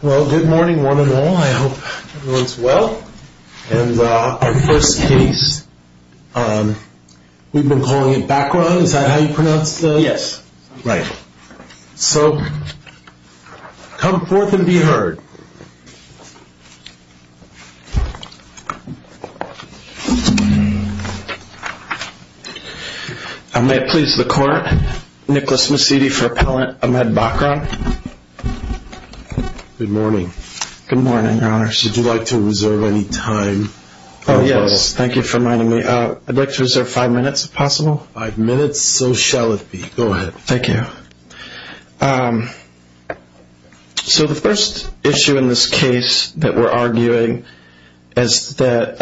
Well, good morning one and all. I hope everyone's well. And our first case, we've been calling it Bakran. Is that how you pronounce it? Yes. Right. So, come forth and be heard. May it please the Court, Nicholas Massidi for Appellant Ahmed Bakran. Good morning. Good morning, Your Honor. Would you like to reserve any time? Oh, yes. Thank you for reminding me. I'd like to reserve five minutes, if possible. Five minutes, so shall it be. Go ahead. Thank you. So, the first issue in this case that we're arguing is that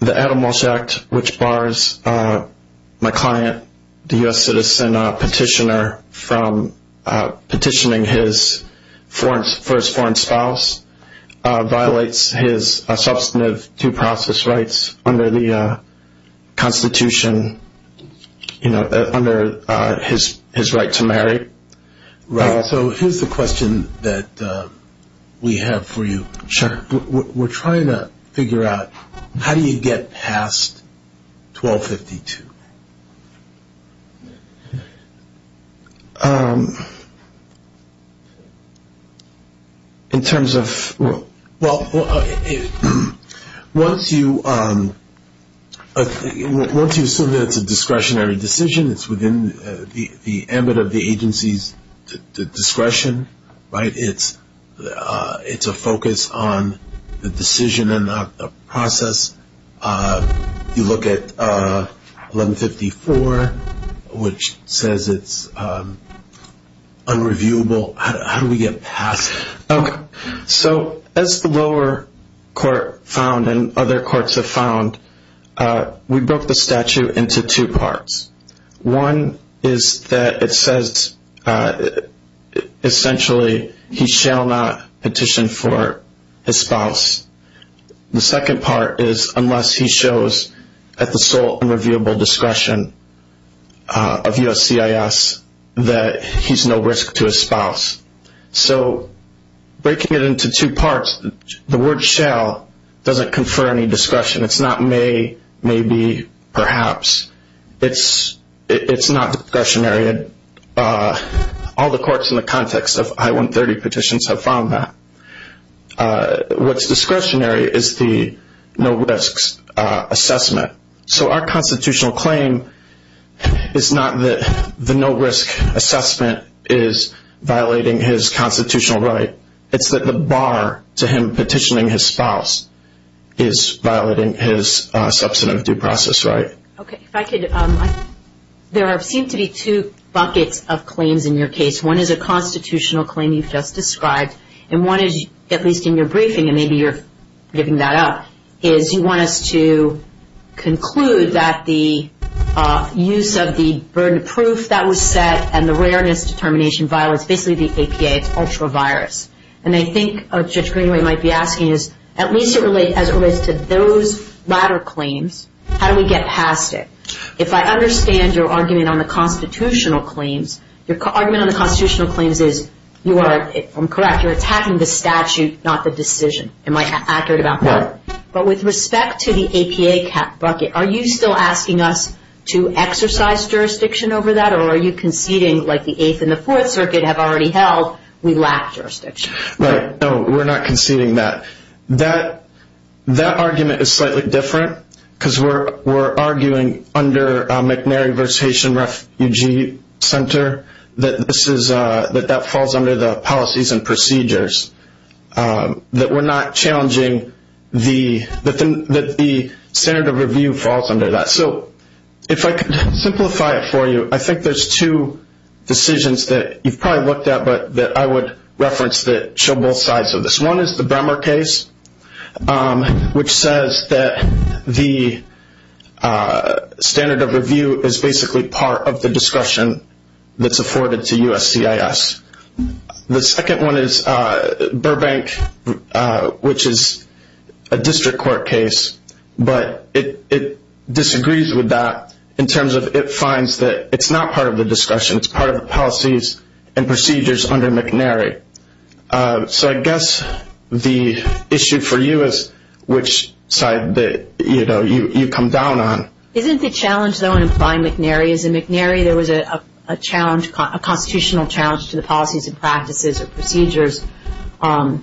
the Adam Walsh Act, which bars my client, the U.S. citizen petitioner, from petitioning for his foreign spouse, violates his substantive due process rights under the Constitution, you know, under his right to marry. Right. So, here's the question that we have for you. Sure. We're trying to figure out how do you get past 1252? In terms of, well, once you assume that it's a discretionary decision, it's within the ambit of the agency's discretion, right, it's a focus on the decision and not the process. You look at 1154, which says it's unreviewable. How do we get past that? So, as the lower court found and other courts have found, we broke the statute into two parts. One is that it says, essentially, he shall not petition for his spouse. The second part is unless he shows, at the sole and reviewable discretion of USCIS, that he's no risk to his spouse. So, breaking it into two parts, the word shall doesn't confer any discretion. It's not may, maybe, perhaps. It's not discretionary. All the courts in the context of I-130 petitions have found that. What's discretionary is the no risks assessment. So, our constitutional claim is not that the no risk assessment is violating his constitutional right. It's that the bar to him petitioning his spouse is violating his substantive due process right. Okay, if I could, there seem to be two buckets of claims in your case. One is a constitutional claim you've just described, and one is, at least in your briefing, and maybe you're giving that up, is you want us to conclude that the use of the burden of proof that was set and the rareness determination violates basically the APA. It's ultra-virus. And I think Judge Greenway might be asking is, at least as it relates to those latter claims, how do we get past it? If I understand your argument on the constitutional claims, your argument on the constitutional claims is, you are, I'm correct, you're attacking the statute, not the decision. Am I accurate about that? Right. But with respect to the APA bucket, are you still asking us to exercise jurisdiction over that, or are you conceding like the Eighth and the Fourth Circuit have already held, we lack jurisdiction? Right, no, we're not conceding that. That argument is slightly different because we're arguing under McNary versus Haitian Refugee Center that that falls under the policies and procedures, that we're not challenging the standard of review falls under that. So if I could simplify it for you, I think there's two decisions that you've probably looked at but that I would reference that show both sides of this. One is the Bremer case, which says that the standard of review is basically part of the discretion that's afforded to USCIS. The second one is Burbank, which is a district court case, but it disagrees with that in terms of it finds that it's not part of the discussion, it's part of the policies and procedures under McNary. So I guess the issue for you is which side you come down on. Isn't the challenge, though, in applying McNary is in McNary there was a constitutional challenge to the policies and practices and procedures, and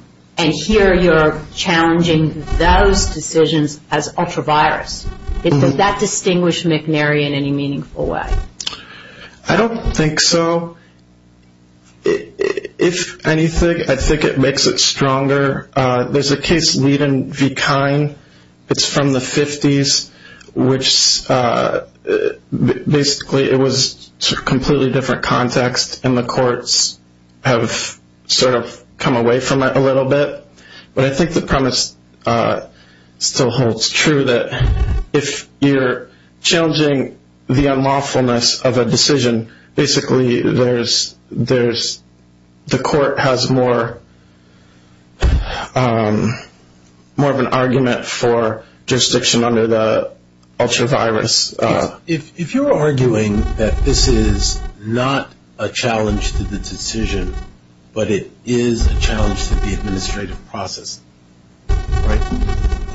here you're challenging those decisions as ultra-virus. Does that distinguish McNary in any meaningful way? I don't think so. If anything, I think it makes it stronger. There's a case Leiden v. Kine. It's from the 50s, which basically it was a completely different context, and the courts have sort of come away from it a little bit. But I think the premise still holds true that if you're challenging the unlawfulness of a decision, basically the court has more of an argument for jurisdiction under the ultra-virus. If you're arguing that this is not a challenge to the decision, but it is a challenge to the administrative process,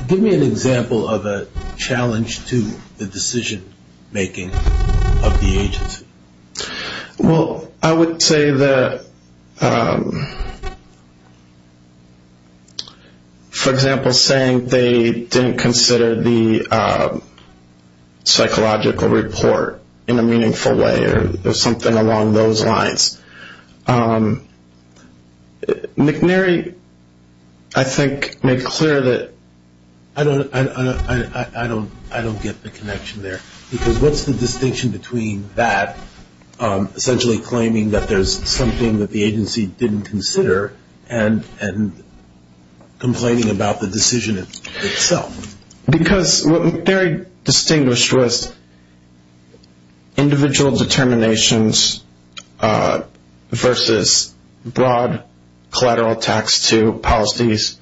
give me an example of a challenge to the decision-making of the agency. Well, I would say that, for example, saying they didn't consider the psychological report in a meaningful way or something along those lines. McNary, I think, made clear that I don't get the connection there, because what's the distinction between that, essentially claiming that there's something that the agency didn't consider and complaining about the decision itself? Because what McNary distinguished was individual determinations versus broad collateral tax to policies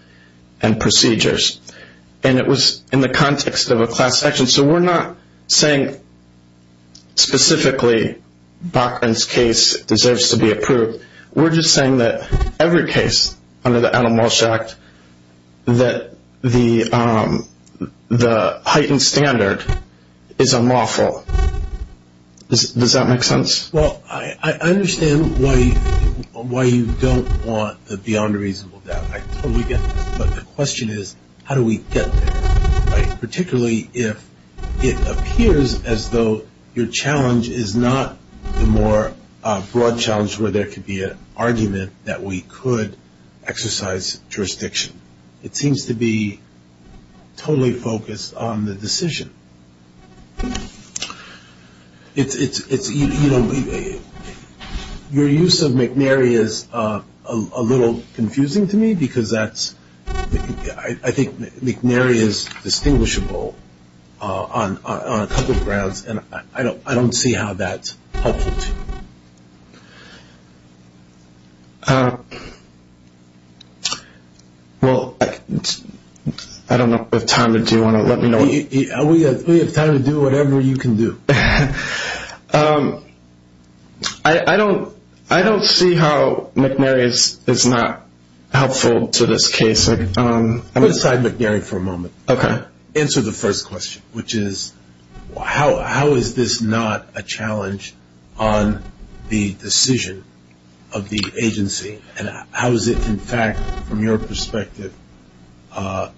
and procedures. And it was in the context of a class action. So we're not saying specifically Bachman's case deserves to be approved. We're just saying that every case under the Adam Walsh Act, that the heightened standard is unlawful. Does that make sense? Well, I understand why you don't want the beyond reasonable doubt. I totally get that. But the question is, how do we get there? Particularly if it appears as though your challenge is not the more broad challenge where there could be an argument that we could exercise jurisdiction. It seems to be totally focused on the decision. Your use of McNary is a little confusing to me, because I think McNary is distinguishable on a couple of grounds, and I don't see how that's helpful to you. Well, I don't know if we have time, but do you want to let me know? We have time to do whatever you can do. I don't see how McNary is not helpful to this case. Let's decide McNary for a moment. Okay. Answer the first question, which is, how is this not a challenge on the decision of the agency? And how is it, in fact, from your perspective, a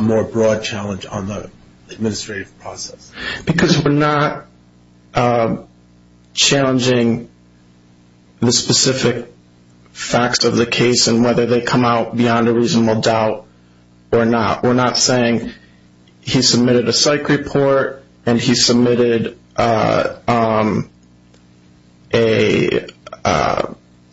more broad challenge on the administrative process? Because we're not challenging the specific facts of the case and whether they come out beyond a reasonable doubt or not. We're not saying he submitted a psych report and he submitted an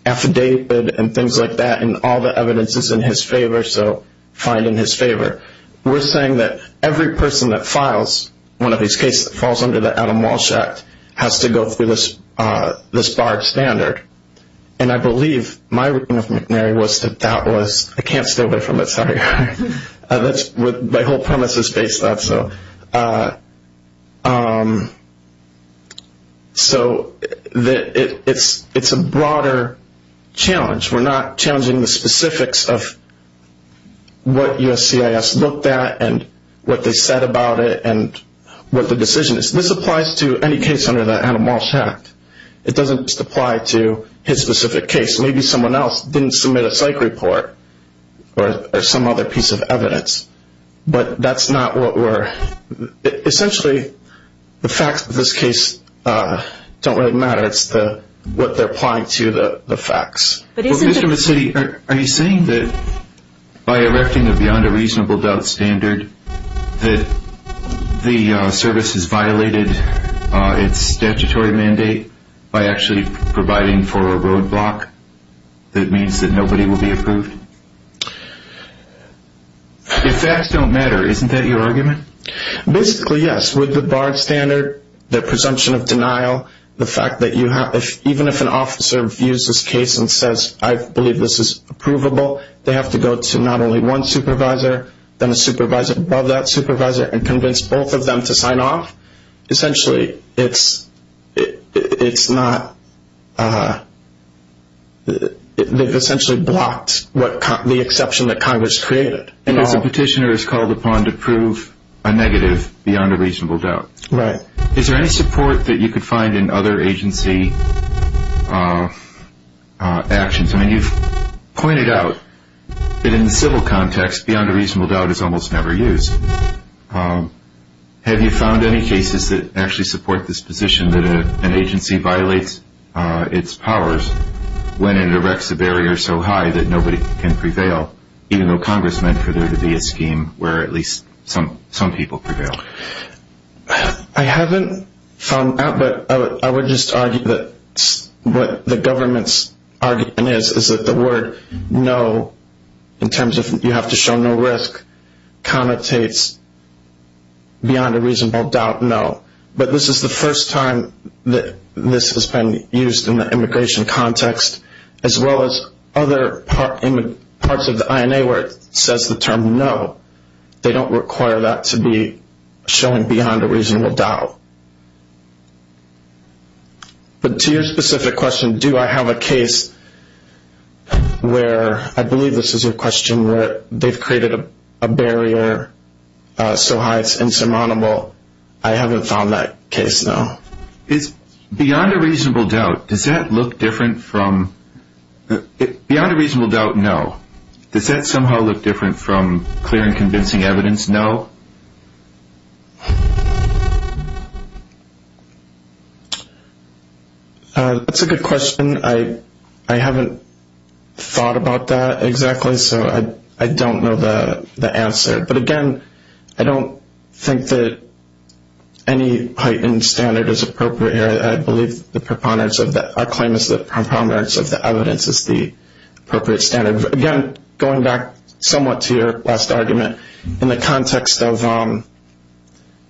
affidavit and things like that and all the evidence is in his favor, so fine in his favor. We're saying that every person that files one of these cases that falls under the Adam Walsh Act has to go through this barred standard. And I believe my reading of McNary was that that was – I can't stay away from it, sorry. My whole premise is based on that. So it's a broader challenge. We're not challenging the specifics of what USCIS looked at and what they said about it and what the decision is. This applies to any case under the Adam Walsh Act. It doesn't just apply to his specific case. Maybe someone else didn't submit a psych report or some other piece of evidence. But that's not what we're – essentially, the facts of this case don't really matter. It's what they're applying to, the facts. Well, Mr. Mazzitti, are you saying that by erecting a beyond a reasonable doubt standard that the service has violated its statutory mandate by actually providing for a roadblock that means that nobody will be approved? If facts don't matter, isn't that your argument? Basically, yes. With the barred standard, the presumption of denial, the fact that you have – even if an officer views this case and says, I believe this is approvable, they have to go to not only one supervisor, then a supervisor above that supervisor and convince both of them to sign off. Essentially, it's not – they've essentially blocked the exception that Congress created. If the petitioner is called upon to prove a negative beyond a reasonable doubt. Right. Is there any support that you could find in other agency actions? I mean, you've pointed out that in the civil context, beyond a reasonable doubt is almost never used. Have you found any cases that actually support this position that an agency violates its powers when it erects a barrier so high that nobody can prevail, even though Congress meant for there to be a scheme where at least some people prevail? I haven't found that, but I would just argue that what the government's argument is is that the word no in terms of you have to show no risk connotates beyond a reasonable doubt no. But this is the first time that this has been used in the immigration context, as well as other parts of the INA where it says the term no. They don't require that to be showing beyond a reasonable doubt. But to your specific question, do I have a case where – I believe this is your question – where they've created a barrier so high it's insurmountable. I haven't found that case, no. Beyond a reasonable doubt, does that look different from – beyond a reasonable doubt, no. Does that somehow look different from clear and convincing evidence, no? That's a good question. I haven't thought about that exactly, so I don't know the answer. But again, I don't think that any heightened standard is appropriate here. I believe the preponderance of – our claim is that preponderance of the evidence is the appropriate standard. Again, going back somewhat to your last argument, in the context of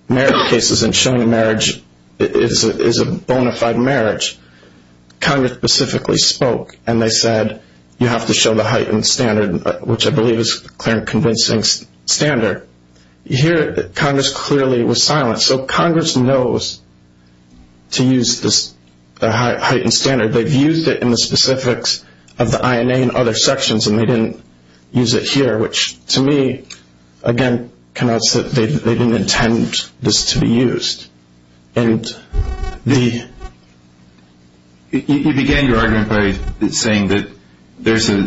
marriage cases and showing a marriage is a bona fide marriage, Congress specifically spoke and they said you have to show the heightened standard, which I believe is a clear and convincing standard. Here, Congress clearly was silent. So Congress knows to use the heightened standard. They've used it in the specifics of the INA and other sections, and they didn't use it here, which to me, again, connotes that they didn't intend this to be used. And the – You began your argument by saying that there's a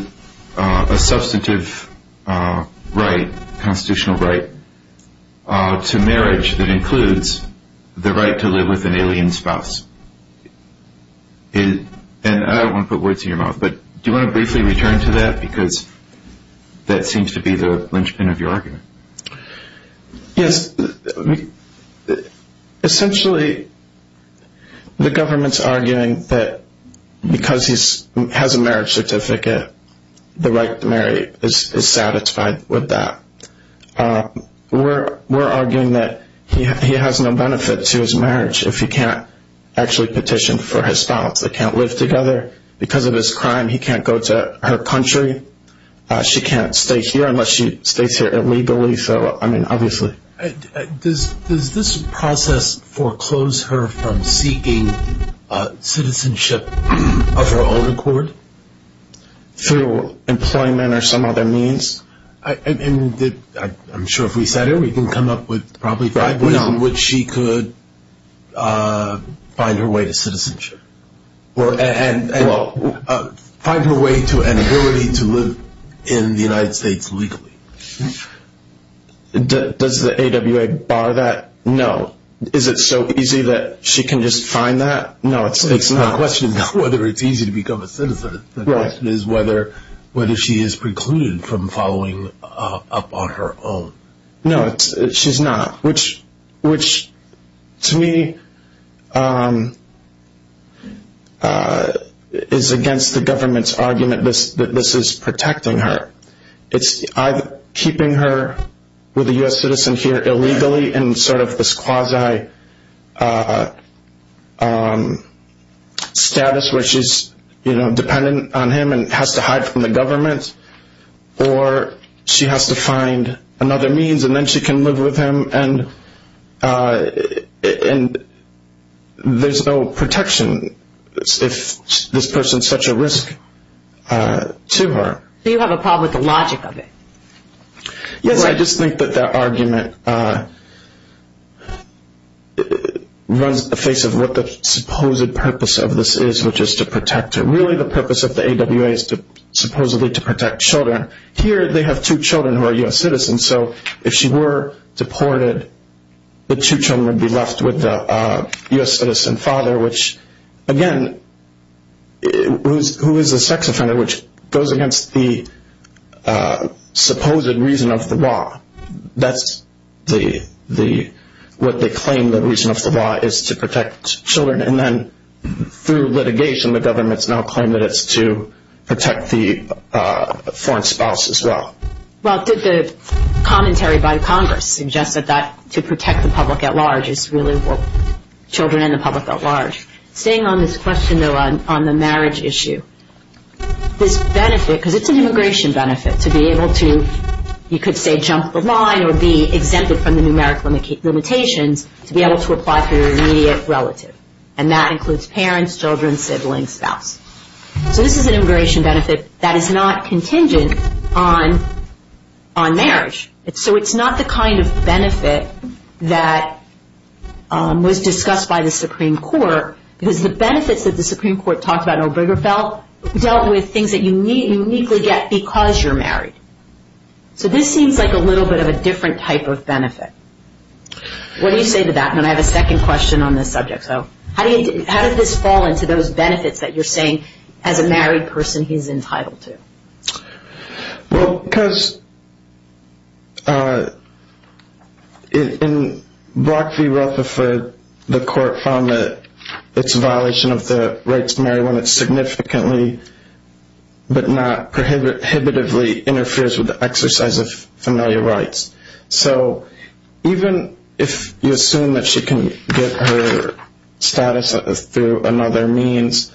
substantive right, constitutional right, to marriage that includes the right to live with an alien spouse. And I don't want to put words in your mouth, but do you want to briefly return to that? Because that seems to be the linchpin of your argument. Yes. Essentially, the government's arguing that because he has a marriage certificate, the right to marry is satisfied with that. We're arguing that he has no benefit to his marriage if he can't actually petition for his spouse. They can't live together. Because of his crime, he can't go to her country. She can't stay here unless she stays here illegally. So, I mean, obviously. Does this process foreclose her from seeking citizenship of her own accord? Through employment or some other means? I'm sure if we sat here, we can come up with probably five ways in which she could find her way to citizenship. And find her way to an ability to live in the United States legally. Does the AWA bar that? No. Is it so easy that she can just find that? No, it's not. The question is not whether it's easy to become a citizen. The question is whether she is precluded from following up on her own. No, she's not. Which, to me, is against the government's argument that this is protecting her. It's either keeping her with a U.S. citizen here illegally in sort of this quasi-status where she's dependent on him and has to hide from the government. Or she has to find another means and then she can live with him and there's no protection if this person is such a risk to her. So you have a problem with the logic of it? Yes, I just think that that argument runs the face of what the supposed purpose of this is, which is to protect her. Really the purpose of the AWA is supposedly to protect children. Here they have two children who are U.S. citizens, so if she were deported the two children would be left with a U.S. citizen father, who is a sex offender, which goes against the supposed reason of the law. That's what they claim the reason of the law is to protect children. And then through litigation the government's now claimed that it's to protect the foreign spouse as well. Well, the commentary by Congress suggests that to protect the public at large is really what children and the public at large. Staying on this question, though, on the marriage issue, this benefit, because it's an immigration benefit to be able to, you could say, jump the line or be exempted from the numeric limitations to be able to apply for your immediate relative. And that includes parents, children, siblings, spouse. So this is an immigration benefit that is not contingent on marriage. So it's not the kind of benefit that was discussed by the Supreme Court, because the benefits that the Supreme Court talked about in Obergefell dealt with things that you uniquely get because you're married. What do you say to that? And I have a second question on this subject. How did this fall into those benefits that you're saying as a married person he's entitled to? Well, because in Brock v. Rutherford, the court found that it's a violation of the rights to marry when it significantly but not prohibitively interferes with the exercise of familial rights. So even if you assume that she can get her status through another means,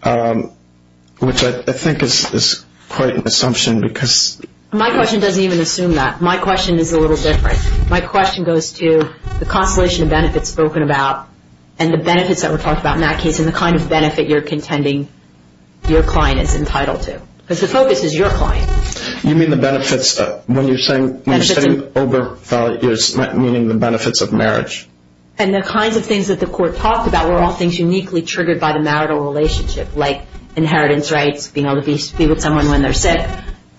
which I think is quite an assumption because — My question doesn't even assume that. My question is a little different. My question goes to the constellation of benefits spoken about and the benefits that were talked about in that case and the kind of benefit you're contending your client is entitled to, because the focus is your client. You mean the benefits when you're saying — Benefits of — When you're saying Obergefell, you're meaning the benefits of marriage. And the kinds of things that the court talked about were all things uniquely triggered by the marital relationship, like inheritance rights, being able to be with someone when they're sick,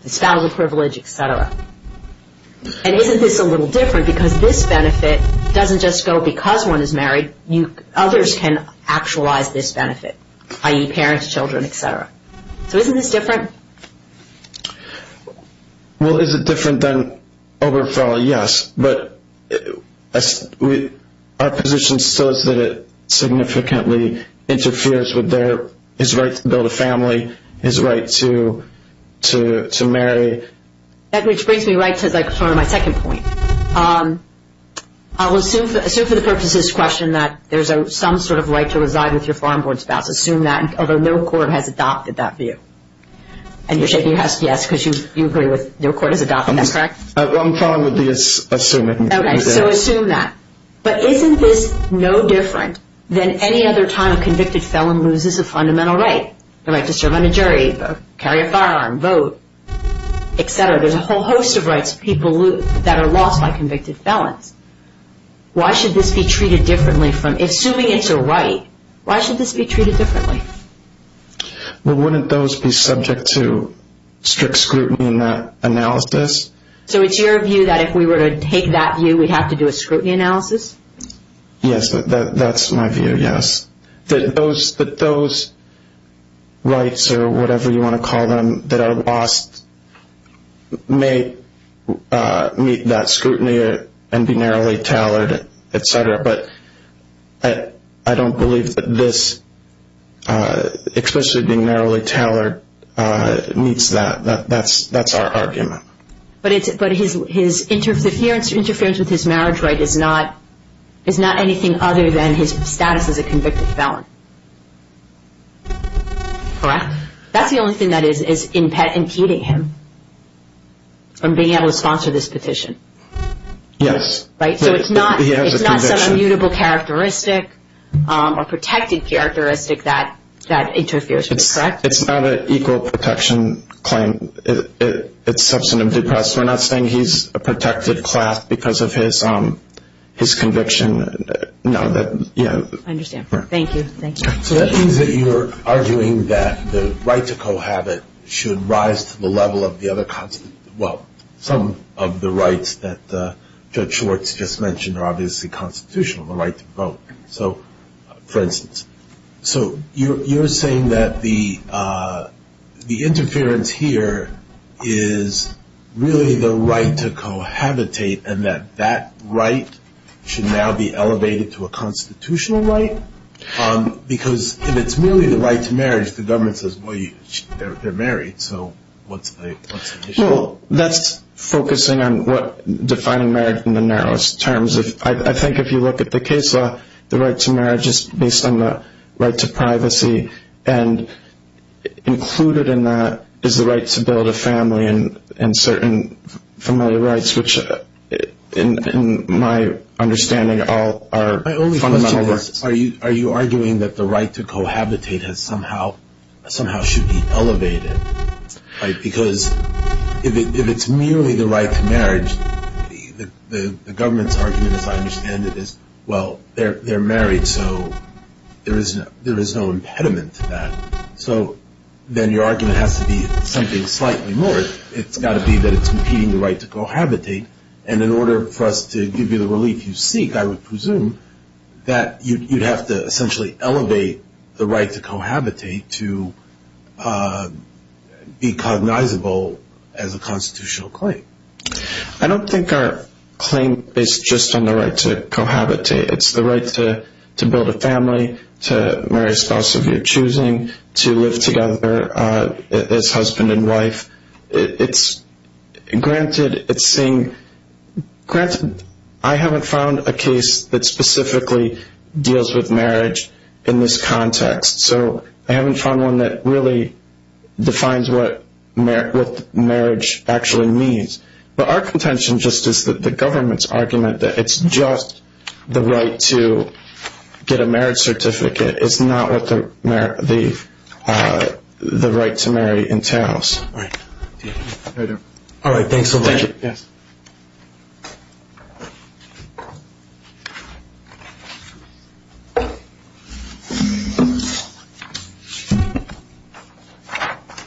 the spousal privilege, et cetera. And isn't this a little different? Because this benefit doesn't just go because one is married. Others can actualize this benefit, i.e. parents, children, et cetera. So isn't this different? Well, is it different than Obergefell? Yes. But our position still is that it significantly interferes with his right to build a family, his right to marry. Which brings me right to my second point. I'll assume for the purposes of this question that there's some sort of right to reside with your farm board spouse, assume that, although no court has adopted that view. And you're shaking your head yes because you agree with no court has adopted that, correct? What I'm trying to do is assume it. Okay, so assume that. But isn't this no different than any other time a convicted felon loses a fundamental right? The right to serve on a jury, carry a firearm, vote, et cetera. There's a whole host of rights people lose that are lost by convicted felons. Why should this be treated differently from — Why should this be treated differently? Well, wouldn't those be subject to strict scrutiny in that analysis? So it's your view that if we were to take that view, we'd have to do a scrutiny analysis? Yes, that's my view, yes. That those rights or whatever you want to call them that are lost may meet that scrutiny and be narrowly tailored, et cetera. But I don't believe that this explicitly being narrowly tailored meets that. That's our argument. But his interference with his marriage right is not anything other than his status as a convicted felon, correct? That's the only thing that is impeding him from being able to sponsor this petition, right? So it's not some immutable characteristic or protected characteristic that interferes, correct? It's not an equal protection claim. It's substantive. We're not saying he's a protected class because of his conviction. I understand. Thank you. So that means that you're arguing that the right to cohabit should rise to the level of the other — well, some of the rights that Judge Schwartz just mentioned are obviously constitutional, the right to vote, for instance. So you're saying that the interference here is really the right to cohabitate and that that right should now be elevated to a constitutional right? Because if it's merely the right to marriage, the government says, well, they're married, so what's the issue? Well, that's focusing on defining marriage in the narrowest terms. I think if you look at the case law, the right to marriage is based on the right to privacy, and included in that is the right to build a family and certain familial rights, which in my understanding all are fundamental rights. My only question is, are you arguing that the right to cohabitate somehow should be elevated? Because if it's merely the right to marriage, the government's argument, as I understand it, is, well, they're married, so there is no impediment to that. So then your argument has to be something slightly more. It's got to be that it's impeding the right to cohabitate. And in order for us to give you the relief you seek, I would presume that you'd have to essentially elevate the right to cohabitate to be cognizable as a constitutional claim. I don't think our claim is just on the right to cohabitate. It's the right to build a family, to marry a spouse of your choosing, to live together as husband and wife. Granted, I haven't found a case that specifically deals with marriage in this context, so I haven't found one that really defines what marriage actually means. But our contention just is that the government's argument that it's just the right to get a marriage certificate is not what the right to marry entails. All right. Thanks so much. Thank you.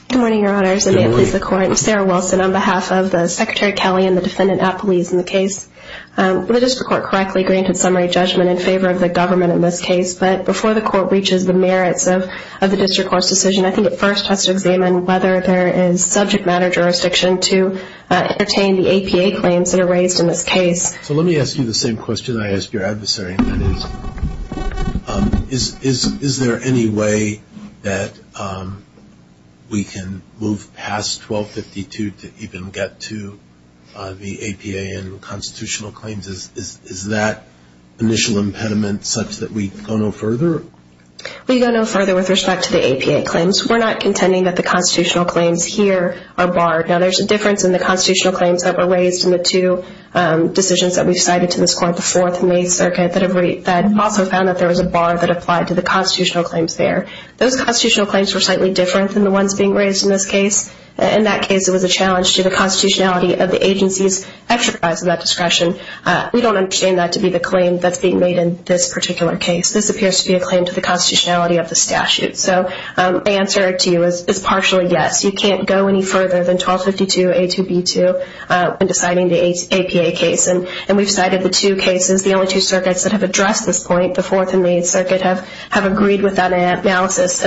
Good morning, Your Honors, and may it please the Court. I'm Sarah Wilson on behalf of the Secretary Kelly and the defendant at police in the case. The district court correctly granted summary judgment in favor of the government in this case, but before the Court reaches the merits of the district court's decision, I think it first has to examine whether there is subject matter jurisdiction to entertain the APA claims that are raised in this case. So let me ask you the same question I asked your adversary, and that is, is there any way that we can move past 1252 to even get to the APA and constitutional claims? Is that initial impediment such that we go no further? We go no further with respect to the APA claims. We're not contending that the constitutional claims here are barred. Now, there's a difference in the constitutional claims that were raised in the two decisions that we've cited to this Court before, the May circuit, that also found that there was a bar that applied to the constitutional claims there. Those constitutional claims were slightly different than the ones being raised in this case. In that case, it was a challenge to the constitutionality of the agency's enterprise of that discretion. We don't understand that to be the claim that's being made in this particular case. This appears to be a claim to the constitutionality of the statute. So the answer to you is partially yes. You can't go any further than 1252A2B2 when deciding the APA case, and we've cited the two cases. The only two circuits that have addressed this point, the Fourth and Main Circuit, have agreed with that analysis.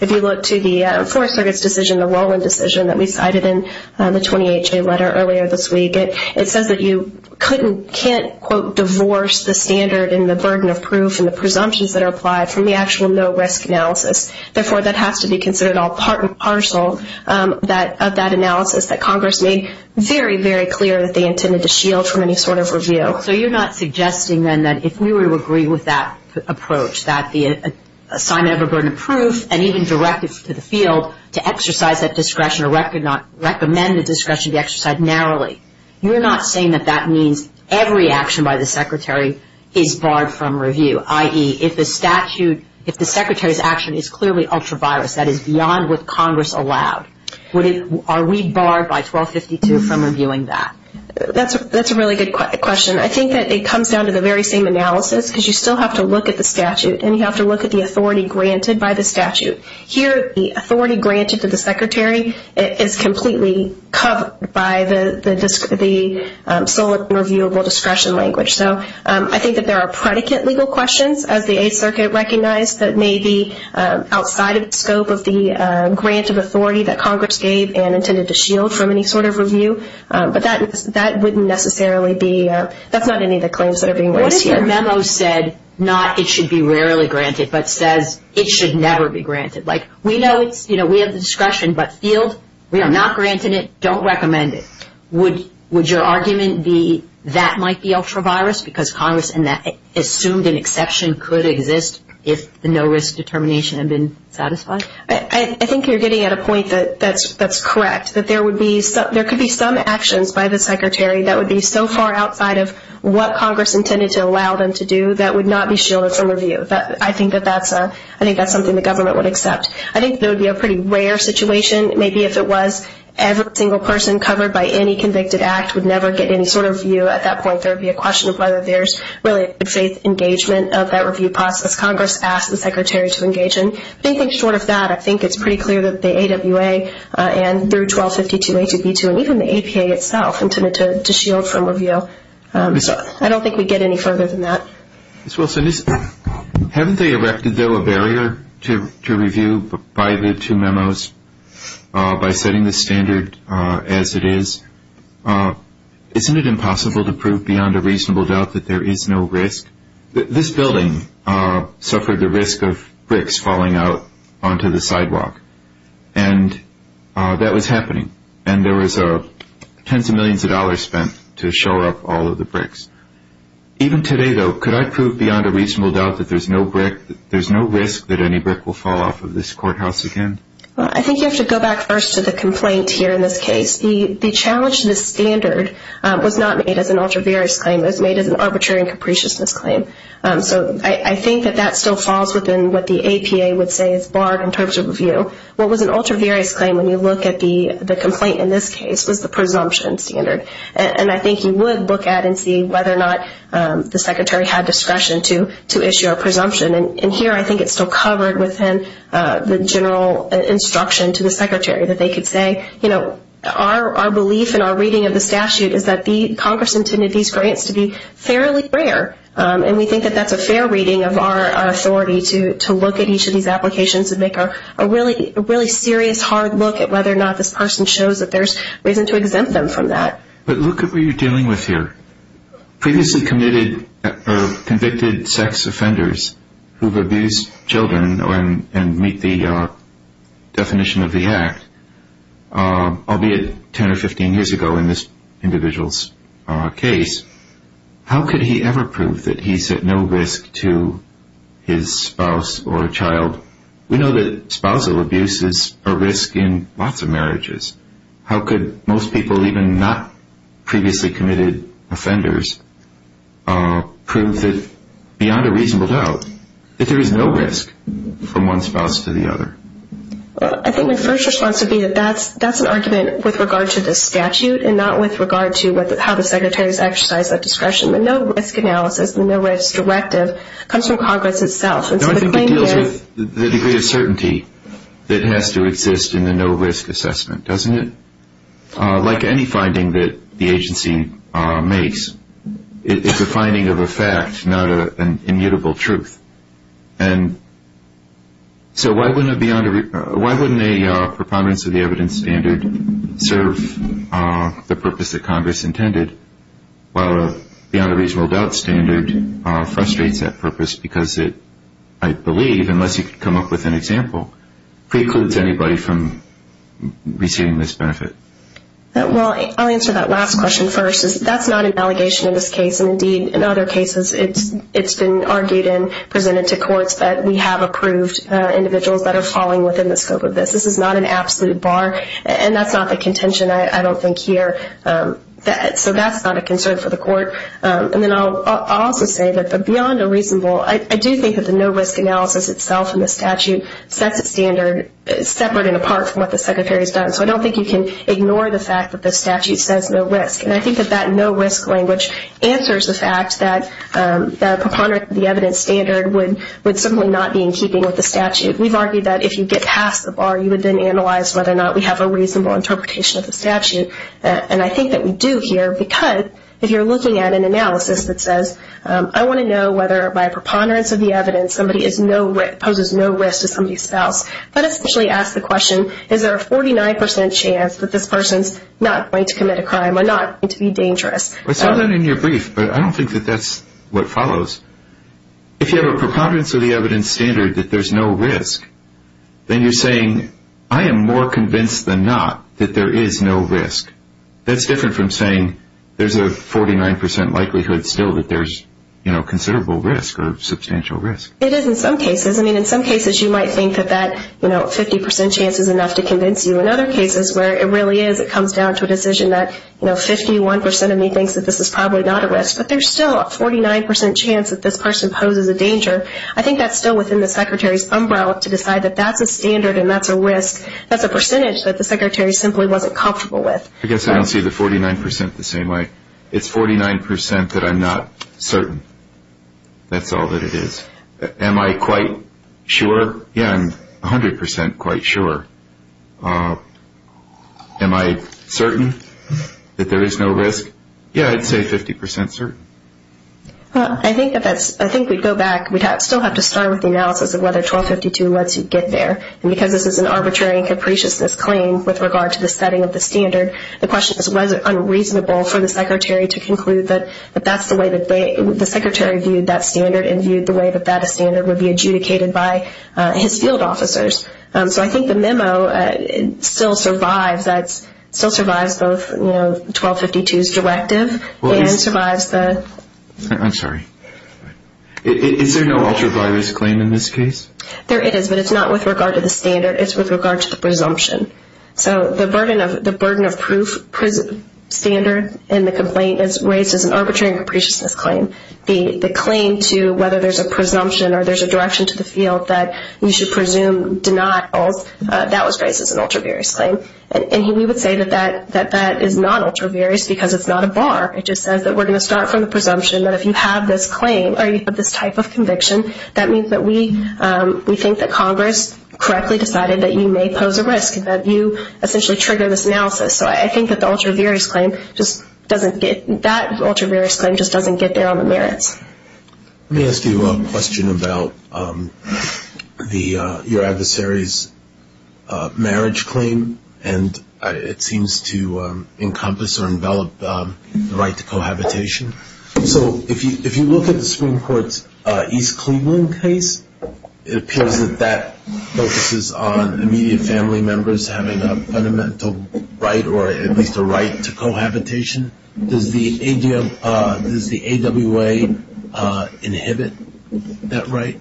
If you look to the Fourth Circuit's decision, the Rowland decision that we cited in the 20HA letter earlier this week, it says that you couldn't, can't, quote, divorce the standard and the burden of proof and the presumptions that are applied from the actual no-risk analysis. Therefore, that has to be considered all part and parcel of that analysis that Congress made very, very clear that they intended to shield from any sort of review. So you're not suggesting, then, that if we were to agree with that approach, that the assignment of a burden of proof and even directives to the field to exercise that discretion or recommend the discretion to be exercised narrowly, you're not saying that that means every action by the Secretary is barred from review, i.e., if the statute, if the Secretary's action is clearly ultra-virus, that is, beyond what Congress allowed, are we barred by 1252 from reviewing that? That's a really good question. I think that it comes down to the very same analysis because you still have to look at the statute and you have to look at the authority granted by the statute. Here, the authority granted to the Secretary is completely covered by the sole reviewable discretion language. So I think that there are predicate legal questions, as the Eighth Circuit recognized, that may be outside of the scope of the grant of authority that Congress gave and intended to shield from any sort of review, but that wouldn't necessarily be, that's not any of the claims that are being raised here. What if your memo said not it should be rarely granted, but says it should never be granted? Like, we know it's, you know, we have the discretion, but field, we are not granting it, don't recommend it. Would your argument be that might be ultra-virus because Congress assumed an exception could exist if the no-risk determination had been satisfied? I think you're getting at a point that's correct, that there could be some actions by the Secretary that would be so far outside of what Congress intended to allow them to do that would not be shielded from review. I think that's something the government would accept. I think it would be a pretty rare situation. Maybe if it was every single person covered by any convicted act would never get any sort of review at that point. There would be a question of whether there's really a good faith engagement of that review process. Congress asked the Secretary to engage in. Thinking short of that, I think it's pretty clear that the AWA and through 1252A2B2 and even the APA itself intended to shield from review. So I don't think we get any further than that. Ms. Wilson, haven't they erected, though, a barrier to review by the two memos by setting the standard as it is? Isn't it impossible to prove beyond a reasonable doubt that there is no risk? This building suffered the risk of bricks falling out onto the sidewalk, and that was happening, and there was tens of millions of dollars spent to shore up all of the bricks. Even today, though, could I prove beyond a reasonable doubt that there's no risk that any brick will fall off of this courthouse again? I think you have to go back first to the complaint here in this case. The challenge to the standard was not made as an ultra-various claim. It was made as an arbitrary and capricious misclaim. So I think that that still falls within what the APA would say is barred in terms of review. What was an ultra-various claim when you look at the complaint in this case was the presumption standard. And I think you would look at and see whether or not the Secretary had discretion to issue a presumption. And here I think it's still covered within the general instruction to the Secretary that they could say, you know, our belief in our reading of the statute is that Congress intended these grants to be fairly rare, and we think that that's a fair reading of our authority to look at each of these applications and make a really serious, hard look at whether or not this person shows that there's reason to exempt them from that. But look at what you're dealing with here. Previously convicted sex offenders who've abused children and meet the definition of the act, albeit 10 or 15 years ago in this individual's case, how could he ever prove that he's at no risk to his spouse or child? We know that spousal abuse is a risk in lots of marriages. How could most people, even not previously committed offenders, prove that beyond a reasonable doubt that there is no risk from one spouse to the other? Well, I think my first response would be that that's an argument with regard to the statute and not with regard to how the Secretary's exercised that discretion. The no-risk analysis, the no-risk directive comes from Congress itself. No, I think it deals with the degree of certainty that has to exist in the no-risk assessment, doesn't it? Like any finding that the agency makes, it's a finding of a fact, not an immutable truth. And so why wouldn't a preponderance of the evidence standard serve the purpose that Congress intended, while a beyond a reasonable doubt standard frustrates that purpose because it, I believe, unless you could come up with an example, precludes anybody from receiving this benefit? Well, I'll answer that last question first. That's not an allegation in this case, and indeed in other cases it's been argued in, presented to courts, that we have approved individuals that are falling within the scope of this. This is not an absolute bar, and that's not the contention, I don't think, here. So that's not a concern for the court. And then I'll also say that the beyond a reasonable, I do think that the no-risk analysis itself in the statute sets a standard separate and apart from what the Secretary's done. So I don't think you can ignore the fact that the statute says no risk. And I think that that no-risk language answers the fact that a preponderance of the evidence standard would simply not be in keeping with the statute. We've argued that if you get past the bar, you would then analyze whether or not we have a reasonable interpretation of the statute. And I think that we do here, because if you're looking at an analysis that says, I want to know whether by a preponderance of the evidence somebody poses no risk to somebody's spouse, that essentially asks the question, is there a 49% chance that this person's not going to commit a crime or not going to be dangerous? I saw that in your brief, but I don't think that that's what follows. If you have a preponderance of the evidence standard that there's no risk, then you're saying, I am more convinced than not that there is no risk. That's different from saying there's a 49% likelihood still that there's considerable risk or substantial risk. It is in some cases. I mean, in some cases you might think that that 50% chance is enough to convince you. In other cases where it really is, it comes down to a decision that 51% of me thinks that this is probably not a risk, but there's still a 49% chance that this person poses a danger. I think that's still within the secretary's umbrella to decide that that's a standard and that's a risk. That's a percentage that the secretary simply wasn't comfortable with. I guess I don't see the 49% the same way. It's 49% that I'm not certain. That's all that it is. Am I quite sure? Yeah, I'm 100% quite sure. Am I certain that there is no risk? Yeah, I'd say 50% certain. I think we'd go back. We'd still have to start with the analysis of whether 1252 lets you get there. Because this is an arbitrary and capriciousness claim with regard to the setting of the standard, the question is was it unreasonable for the secretary to conclude that that's the way that they, the secretary viewed that standard and viewed the way that that standard would be adjudicated by his field officers. So I think the memo still survives. It still survives both 1252's directive and survives the... I'm sorry. Is there no ultraviolence claim in this case? There is, but it's not with regard to the standard. It's with regard to the presumption. So the burden of proof standard in the complaint is raised as an arbitrary and capriciousness claim. The claim to whether there's a presumption or there's a direction to the field that you should presume denials, that was raised as an ultraviarious claim. And we would say that that is not ultraviarious because it's not a bar. It just says that we're going to start from the presumption that if you have this claim or you have this type of conviction, that means that we think that Congress correctly decided that you may pose a risk, that you essentially trigger this analysis. So I think that the ultraviarious claim just doesn't get... that ultraviarious claim just doesn't get there on the merits. Let me ask you a question about your adversary's marriage claim, and it seems to encompass or envelop the right to cohabitation. So if you look at the Supreme Court's East Cleveland case, it appears that that focuses on immediate family members having a fundamental right or at least a right to cohabitation. Does the AWA inhibit that right?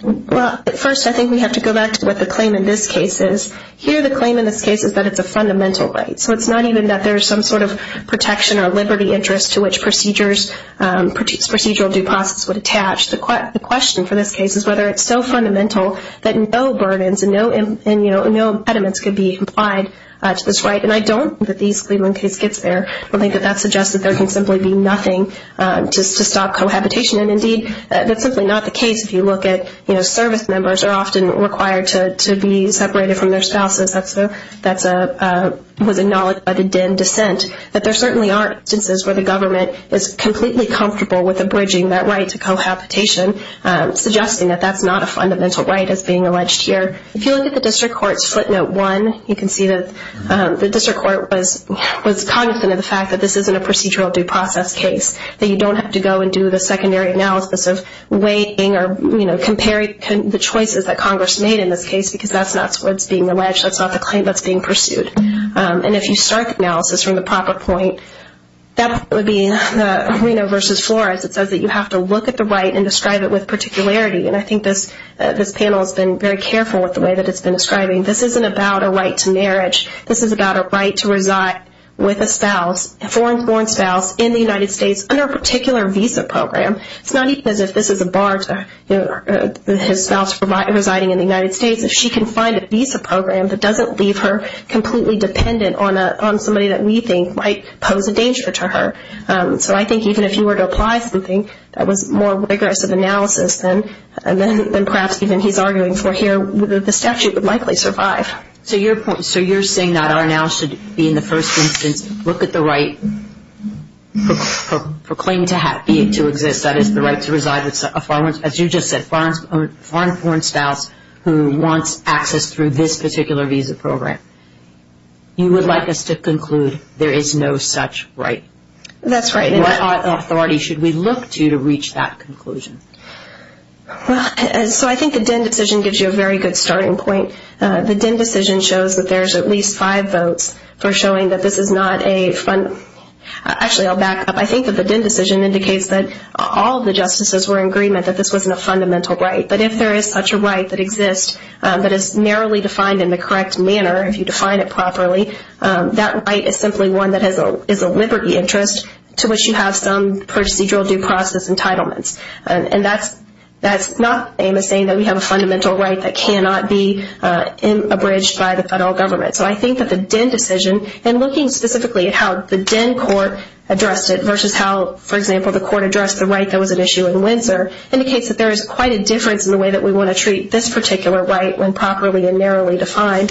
Well, first I think we have to go back to what the claim in this case is. Here the claim in this case is that it's a fundamental right. So it's not even that there's some sort of protection or liberty interest to which procedural due process would attach. The question for this case is whether it's so fundamental that no burdens and no impediments could be applied to this right. And I don't think that the East Cleveland case gets there. I think that that suggests that there can simply be nothing to stop cohabitation, and indeed that's simply not the case if you look at service members are often required to be separated from their spouses. That was acknowledged by the Dinn dissent. But there certainly are instances where the government is completely comfortable with abridging that right to cohabitation, suggesting that that's not a fundamental right as being alleged here. If you look at the district court's footnote one, you can see that the district court was cognizant of the fact that this isn't a procedural due process case, that you don't have to go and do the secondary analysis of weighting or comparing the choices that Congress made in this case because that's not what's being alleged. That's not the claim that's being pursued. And if you start the analysis from the proper point, that would be Reno versus Flores. It says that you have to look at the right and describe it with particularity. And I think this panel has been very careful with the way that it's been describing. This isn't about a right to marriage. This is about a right to reside with a spouse, a foreign-born spouse in the United States under a particular visa program. It's not even as if this is a bar to his spouse residing in the United States. If she can find a visa program that doesn't leave her completely dependent on somebody that we think might pose a danger to her. So I think even if you were to apply something that was more rigorous of analysis than perhaps even he's arguing for here, the statute would likely survive. So you're saying that our analysis should be in the first instance look at the right for claim to exist, that is the right to reside with a foreign, as you just said, foreign-born spouse who wants access through this particular visa program. You would like us to conclude there is no such right. That's right. What authority should we look to to reach that conclusion? Well, so I think the DEN decision gives you a very good starting point. The DEN decision shows that there's at least five votes for showing that this is not a, actually I'll back up. I think that the DEN decision indicates that all the justices were in agreement that this wasn't a fundamental right. But if there is such a right that exists that is narrowly defined in the correct manner, if you define it properly, that right is simply one that is a liberty interest to which you have some procedural due process entitlements. And that's not saying that we have a fundamental right that cannot be abridged by the federal government. So I think that the DEN decision, and looking specifically at how the DEN court addressed it, versus how, for example, the court addressed the right that was at issue in Windsor, indicates that there is quite a difference in the way that we want to treat this particular right when properly and narrowly defined,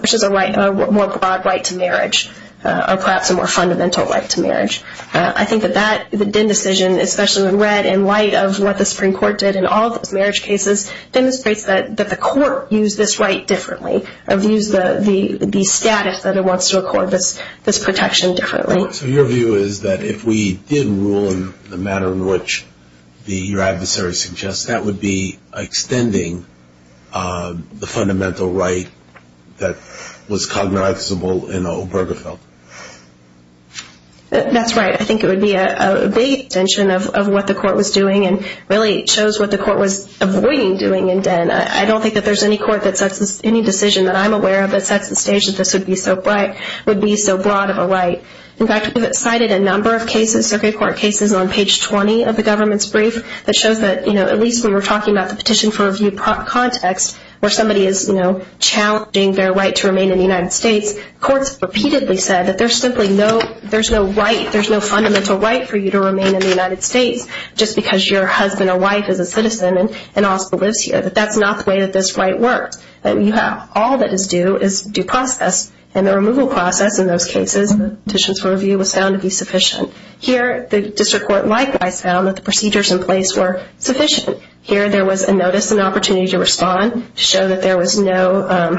which is a right, a more broad right to marriage, or perhaps a more fundamental right to marriage. I think that that, the DEN decision, especially when read in light of what the Supreme Court did in all those marriage cases, demonstrates that the court used this right differently, abused the status that it wants to accord this protection differently. So your view is that if we did rule in the manner in which your adversary suggests, that would be extending the fundamental right that was cognizable in Obergefell? That's right. I think it would be a big extension of what the court was doing and really shows what the court was avoiding doing in DEN. I don't think that there's any court that sets this, any decision that I'm aware of that sets the stage that this would be so broad of a right. In fact, we've cited a number of cases, circuit court cases, on page 20 of the government's brief that shows that, you know, at least when you're talking about the petition for review context, where somebody is, you know, challenging their right to remain in the United States, courts repeatedly said that there's simply no, there's no right, there's no fundamental right for you to remain in the United States just because your husband or wife is a citizen and also lives here. That that's not the way that this right works. All that is due is due process, and the removal process in those cases, the petitions for review was found to be sufficient. Here the district court likewise found that the procedures in place were sufficient. Here there was a notice, an opportunity to respond, to show that there was no,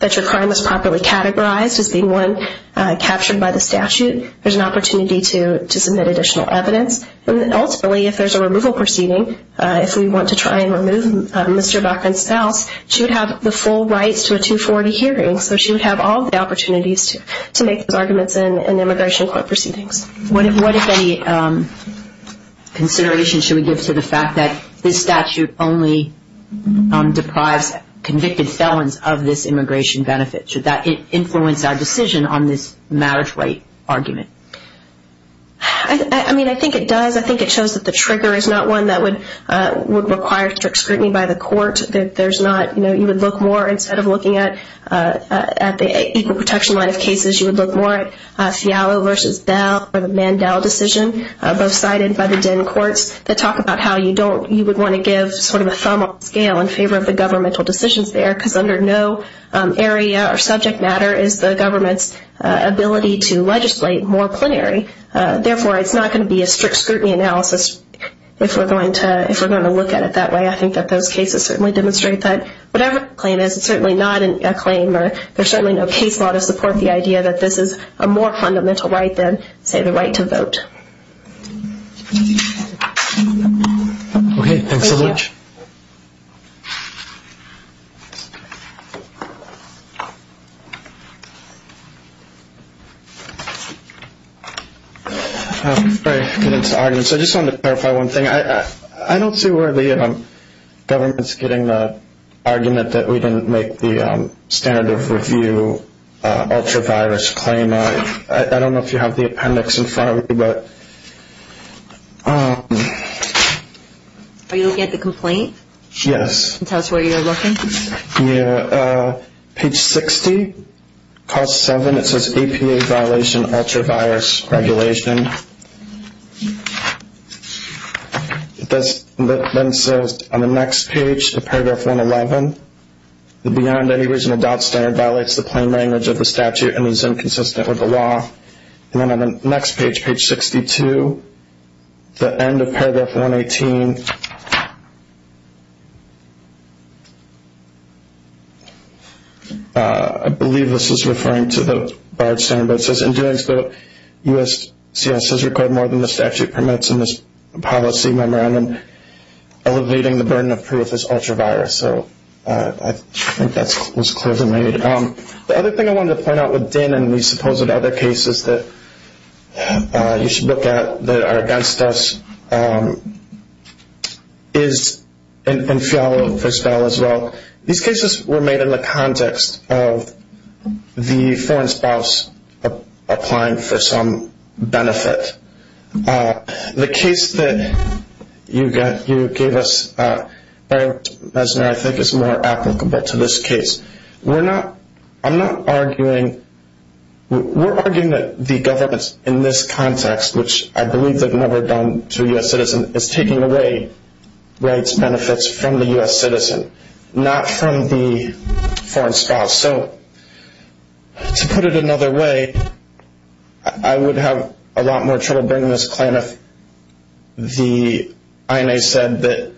that your crime was properly categorized as being one captured by the statute. There's an opportunity to submit additional evidence. Ultimately, if there's a removal proceeding, if we want to try and remove Mr. Bachman's spouse, she would have the full rights to a 240 hearing, so she would have all the opportunities to make those arguments in immigration court proceedings. What if any consideration should we give to the fact that this statute only deprives convicted felons of this immigration benefit? Should that influence our decision on this marriage right argument? I mean, I think it does. I think it shows that the trigger is not one that would require strict scrutiny by the court, that there's not, you know, you would look more, instead of looking at the equal protection line of cases, you would look more at Fialo versus Dow or the Mandel decision, both cited by the DEN courts, that talk about how you don't, you would want to give sort of a thumb up scale in favor of the governmental decisions there, because under no area or subject matter is the government's ability to legislate more plenary. Therefore, it's not going to be a strict scrutiny analysis if we're going to look at it that way. I think that those cases certainly demonstrate that. Whatever the claim is, it's certainly not a claim, or there's certainly no case law to support the idea that this is a more fundamental right than, say, the right to vote. Thank you. Okay, thanks so much. Thank you. Before I get into arguments, I just wanted to clarify one thing. I don't see where the government's getting the argument that we didn't make the standard of review ultra-virus claim. I don't know if you have the appendix in front of you. Are you looking at the complaint? Yes. Can you tell us where you're looking? Yeah. Page 60, Clause 7, it says, APA violation ultra-virus regulation. It then says on the next page of Paragraph 111, that beyond any reasonable doubt, standard violates the plain language of the statute and is inconsistent with the law. And then on the next page, Page 62, the end of Paragraph 118, I believe this is referring to the barred standard, but it says, In doing so, USCIS has required more than the statute permits in this policy memorandum, elevating the burden of proof as ultra-virus. So I think that was clear to me. The other thing I wanted to point out with Din and these supposed other cases that you should look at that are against us is in Fiala, first of all, as well, these cases were made in the context of the foreign spouse applying for some benefit. The case that you gave us, I think is more applicable to this case. We're arguing that the government in this context, which I believe they've never done to a U.S. citizen, is taking away rights, benefits from the U.S. citizen, not from the foreign spouse. So to put it another way, I would have a lot more trouble bringing this claim with the INA said that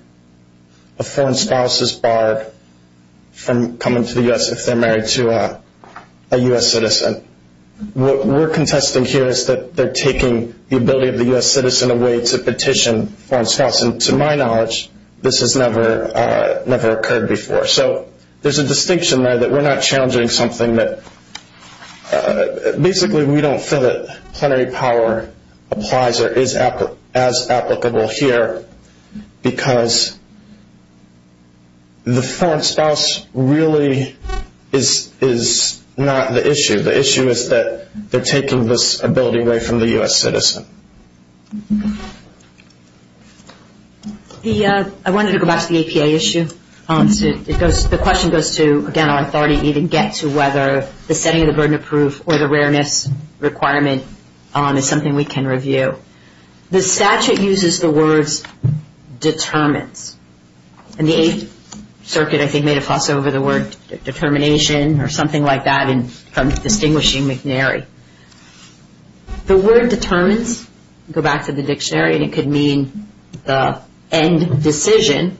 a foreign spouse is barred from coming to the U.S. if they're married to a U.S. citizen. What we're contesting here is that they're taking the ability of the U.S. citizen away to petition foreign spouse, and to my knowledge, this has never occurred before. So there's a distinction there that we're not challenging something that, basically, we don't feel that plenary power applies or is as applicable here, because the foreign spouse really is not the issue. The issue is that they're taking this ability away from the U.S. citizen. I wanted to go back to the APA issue. The question goes to, again, our authority need to get to whether the setting of the burden of proof or the rareness requirement is something we can review. The statute uses the words determines, and the Eighth Circuit, I think, made a fuss over the word determination or something like that from distinguishing McNary. The word determines, go back to the dictionary, and it could mean the end decision,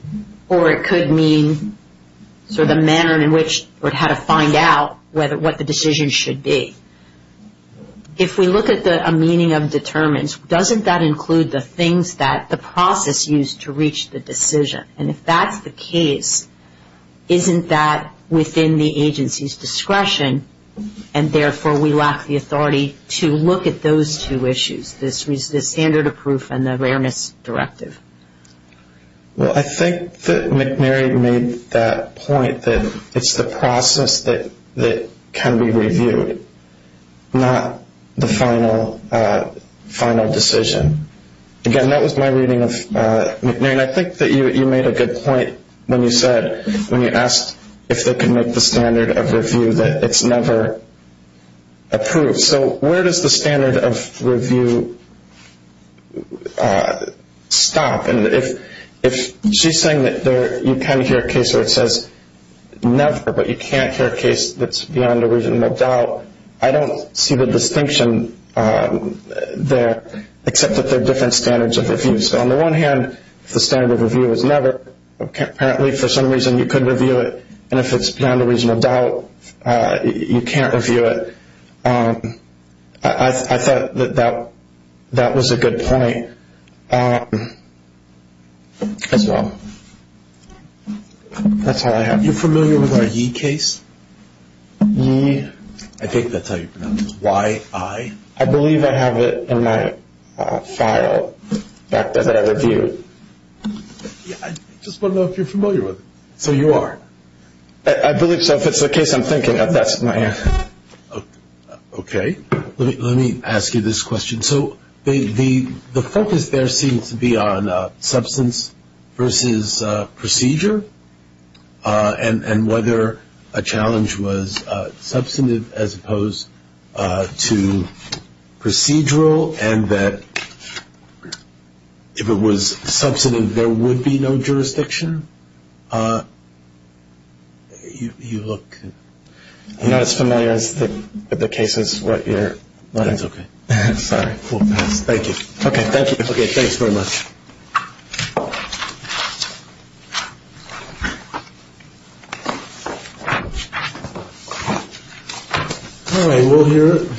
or it could mean sort of the manner in which or how to find out what the decision should be. If we look at the meaning of determines, doesn't that include the things that the process used to reach the decision? And if that's the case, isn't that within the agency's discretion, and therefore we lack the authority to look at those two issues, the standard of proof and the rareness directive? Well, I think that McNary made that point that it's the process that can be reviewed, not the final decision. Again, that was my reading of McNary, and I think that you made a good point when you said, when you asked if they could make the standard of review that it's never approved. So where does the standard of review stop? And if she's saying that you can hear a case where it says never, but you can't hear a case that's beyond a reasonable doubt, I don't see the distinction there except that they're different standards of review. So on the one hand, if the standard of review is never, apparently for some reason you could review it, and if it's beyond a reasonable doubt you can't review it, I thought that that was a good point as well. That's all I have. Are you familiar with our Yi case? Yi? I think that's how you pronounce it, Y-I. I believe I have it in my file back that I reviewed. I just want to know if you're familiar with it. So you are? I believe so. If it's the case I'm thinking of, that's my answer. Okay. Let me ask you this question. So the focus there seems to be on substance versus procedure and whether a challenge was substantive as opposed to procedural, and that if it was substantive there would be no jurisdiction. You look not as familiar as the cases that you're looking at. That's okay. Sorry. We'll pass. Thank you. Okay, thank you. Okay, thanks very much.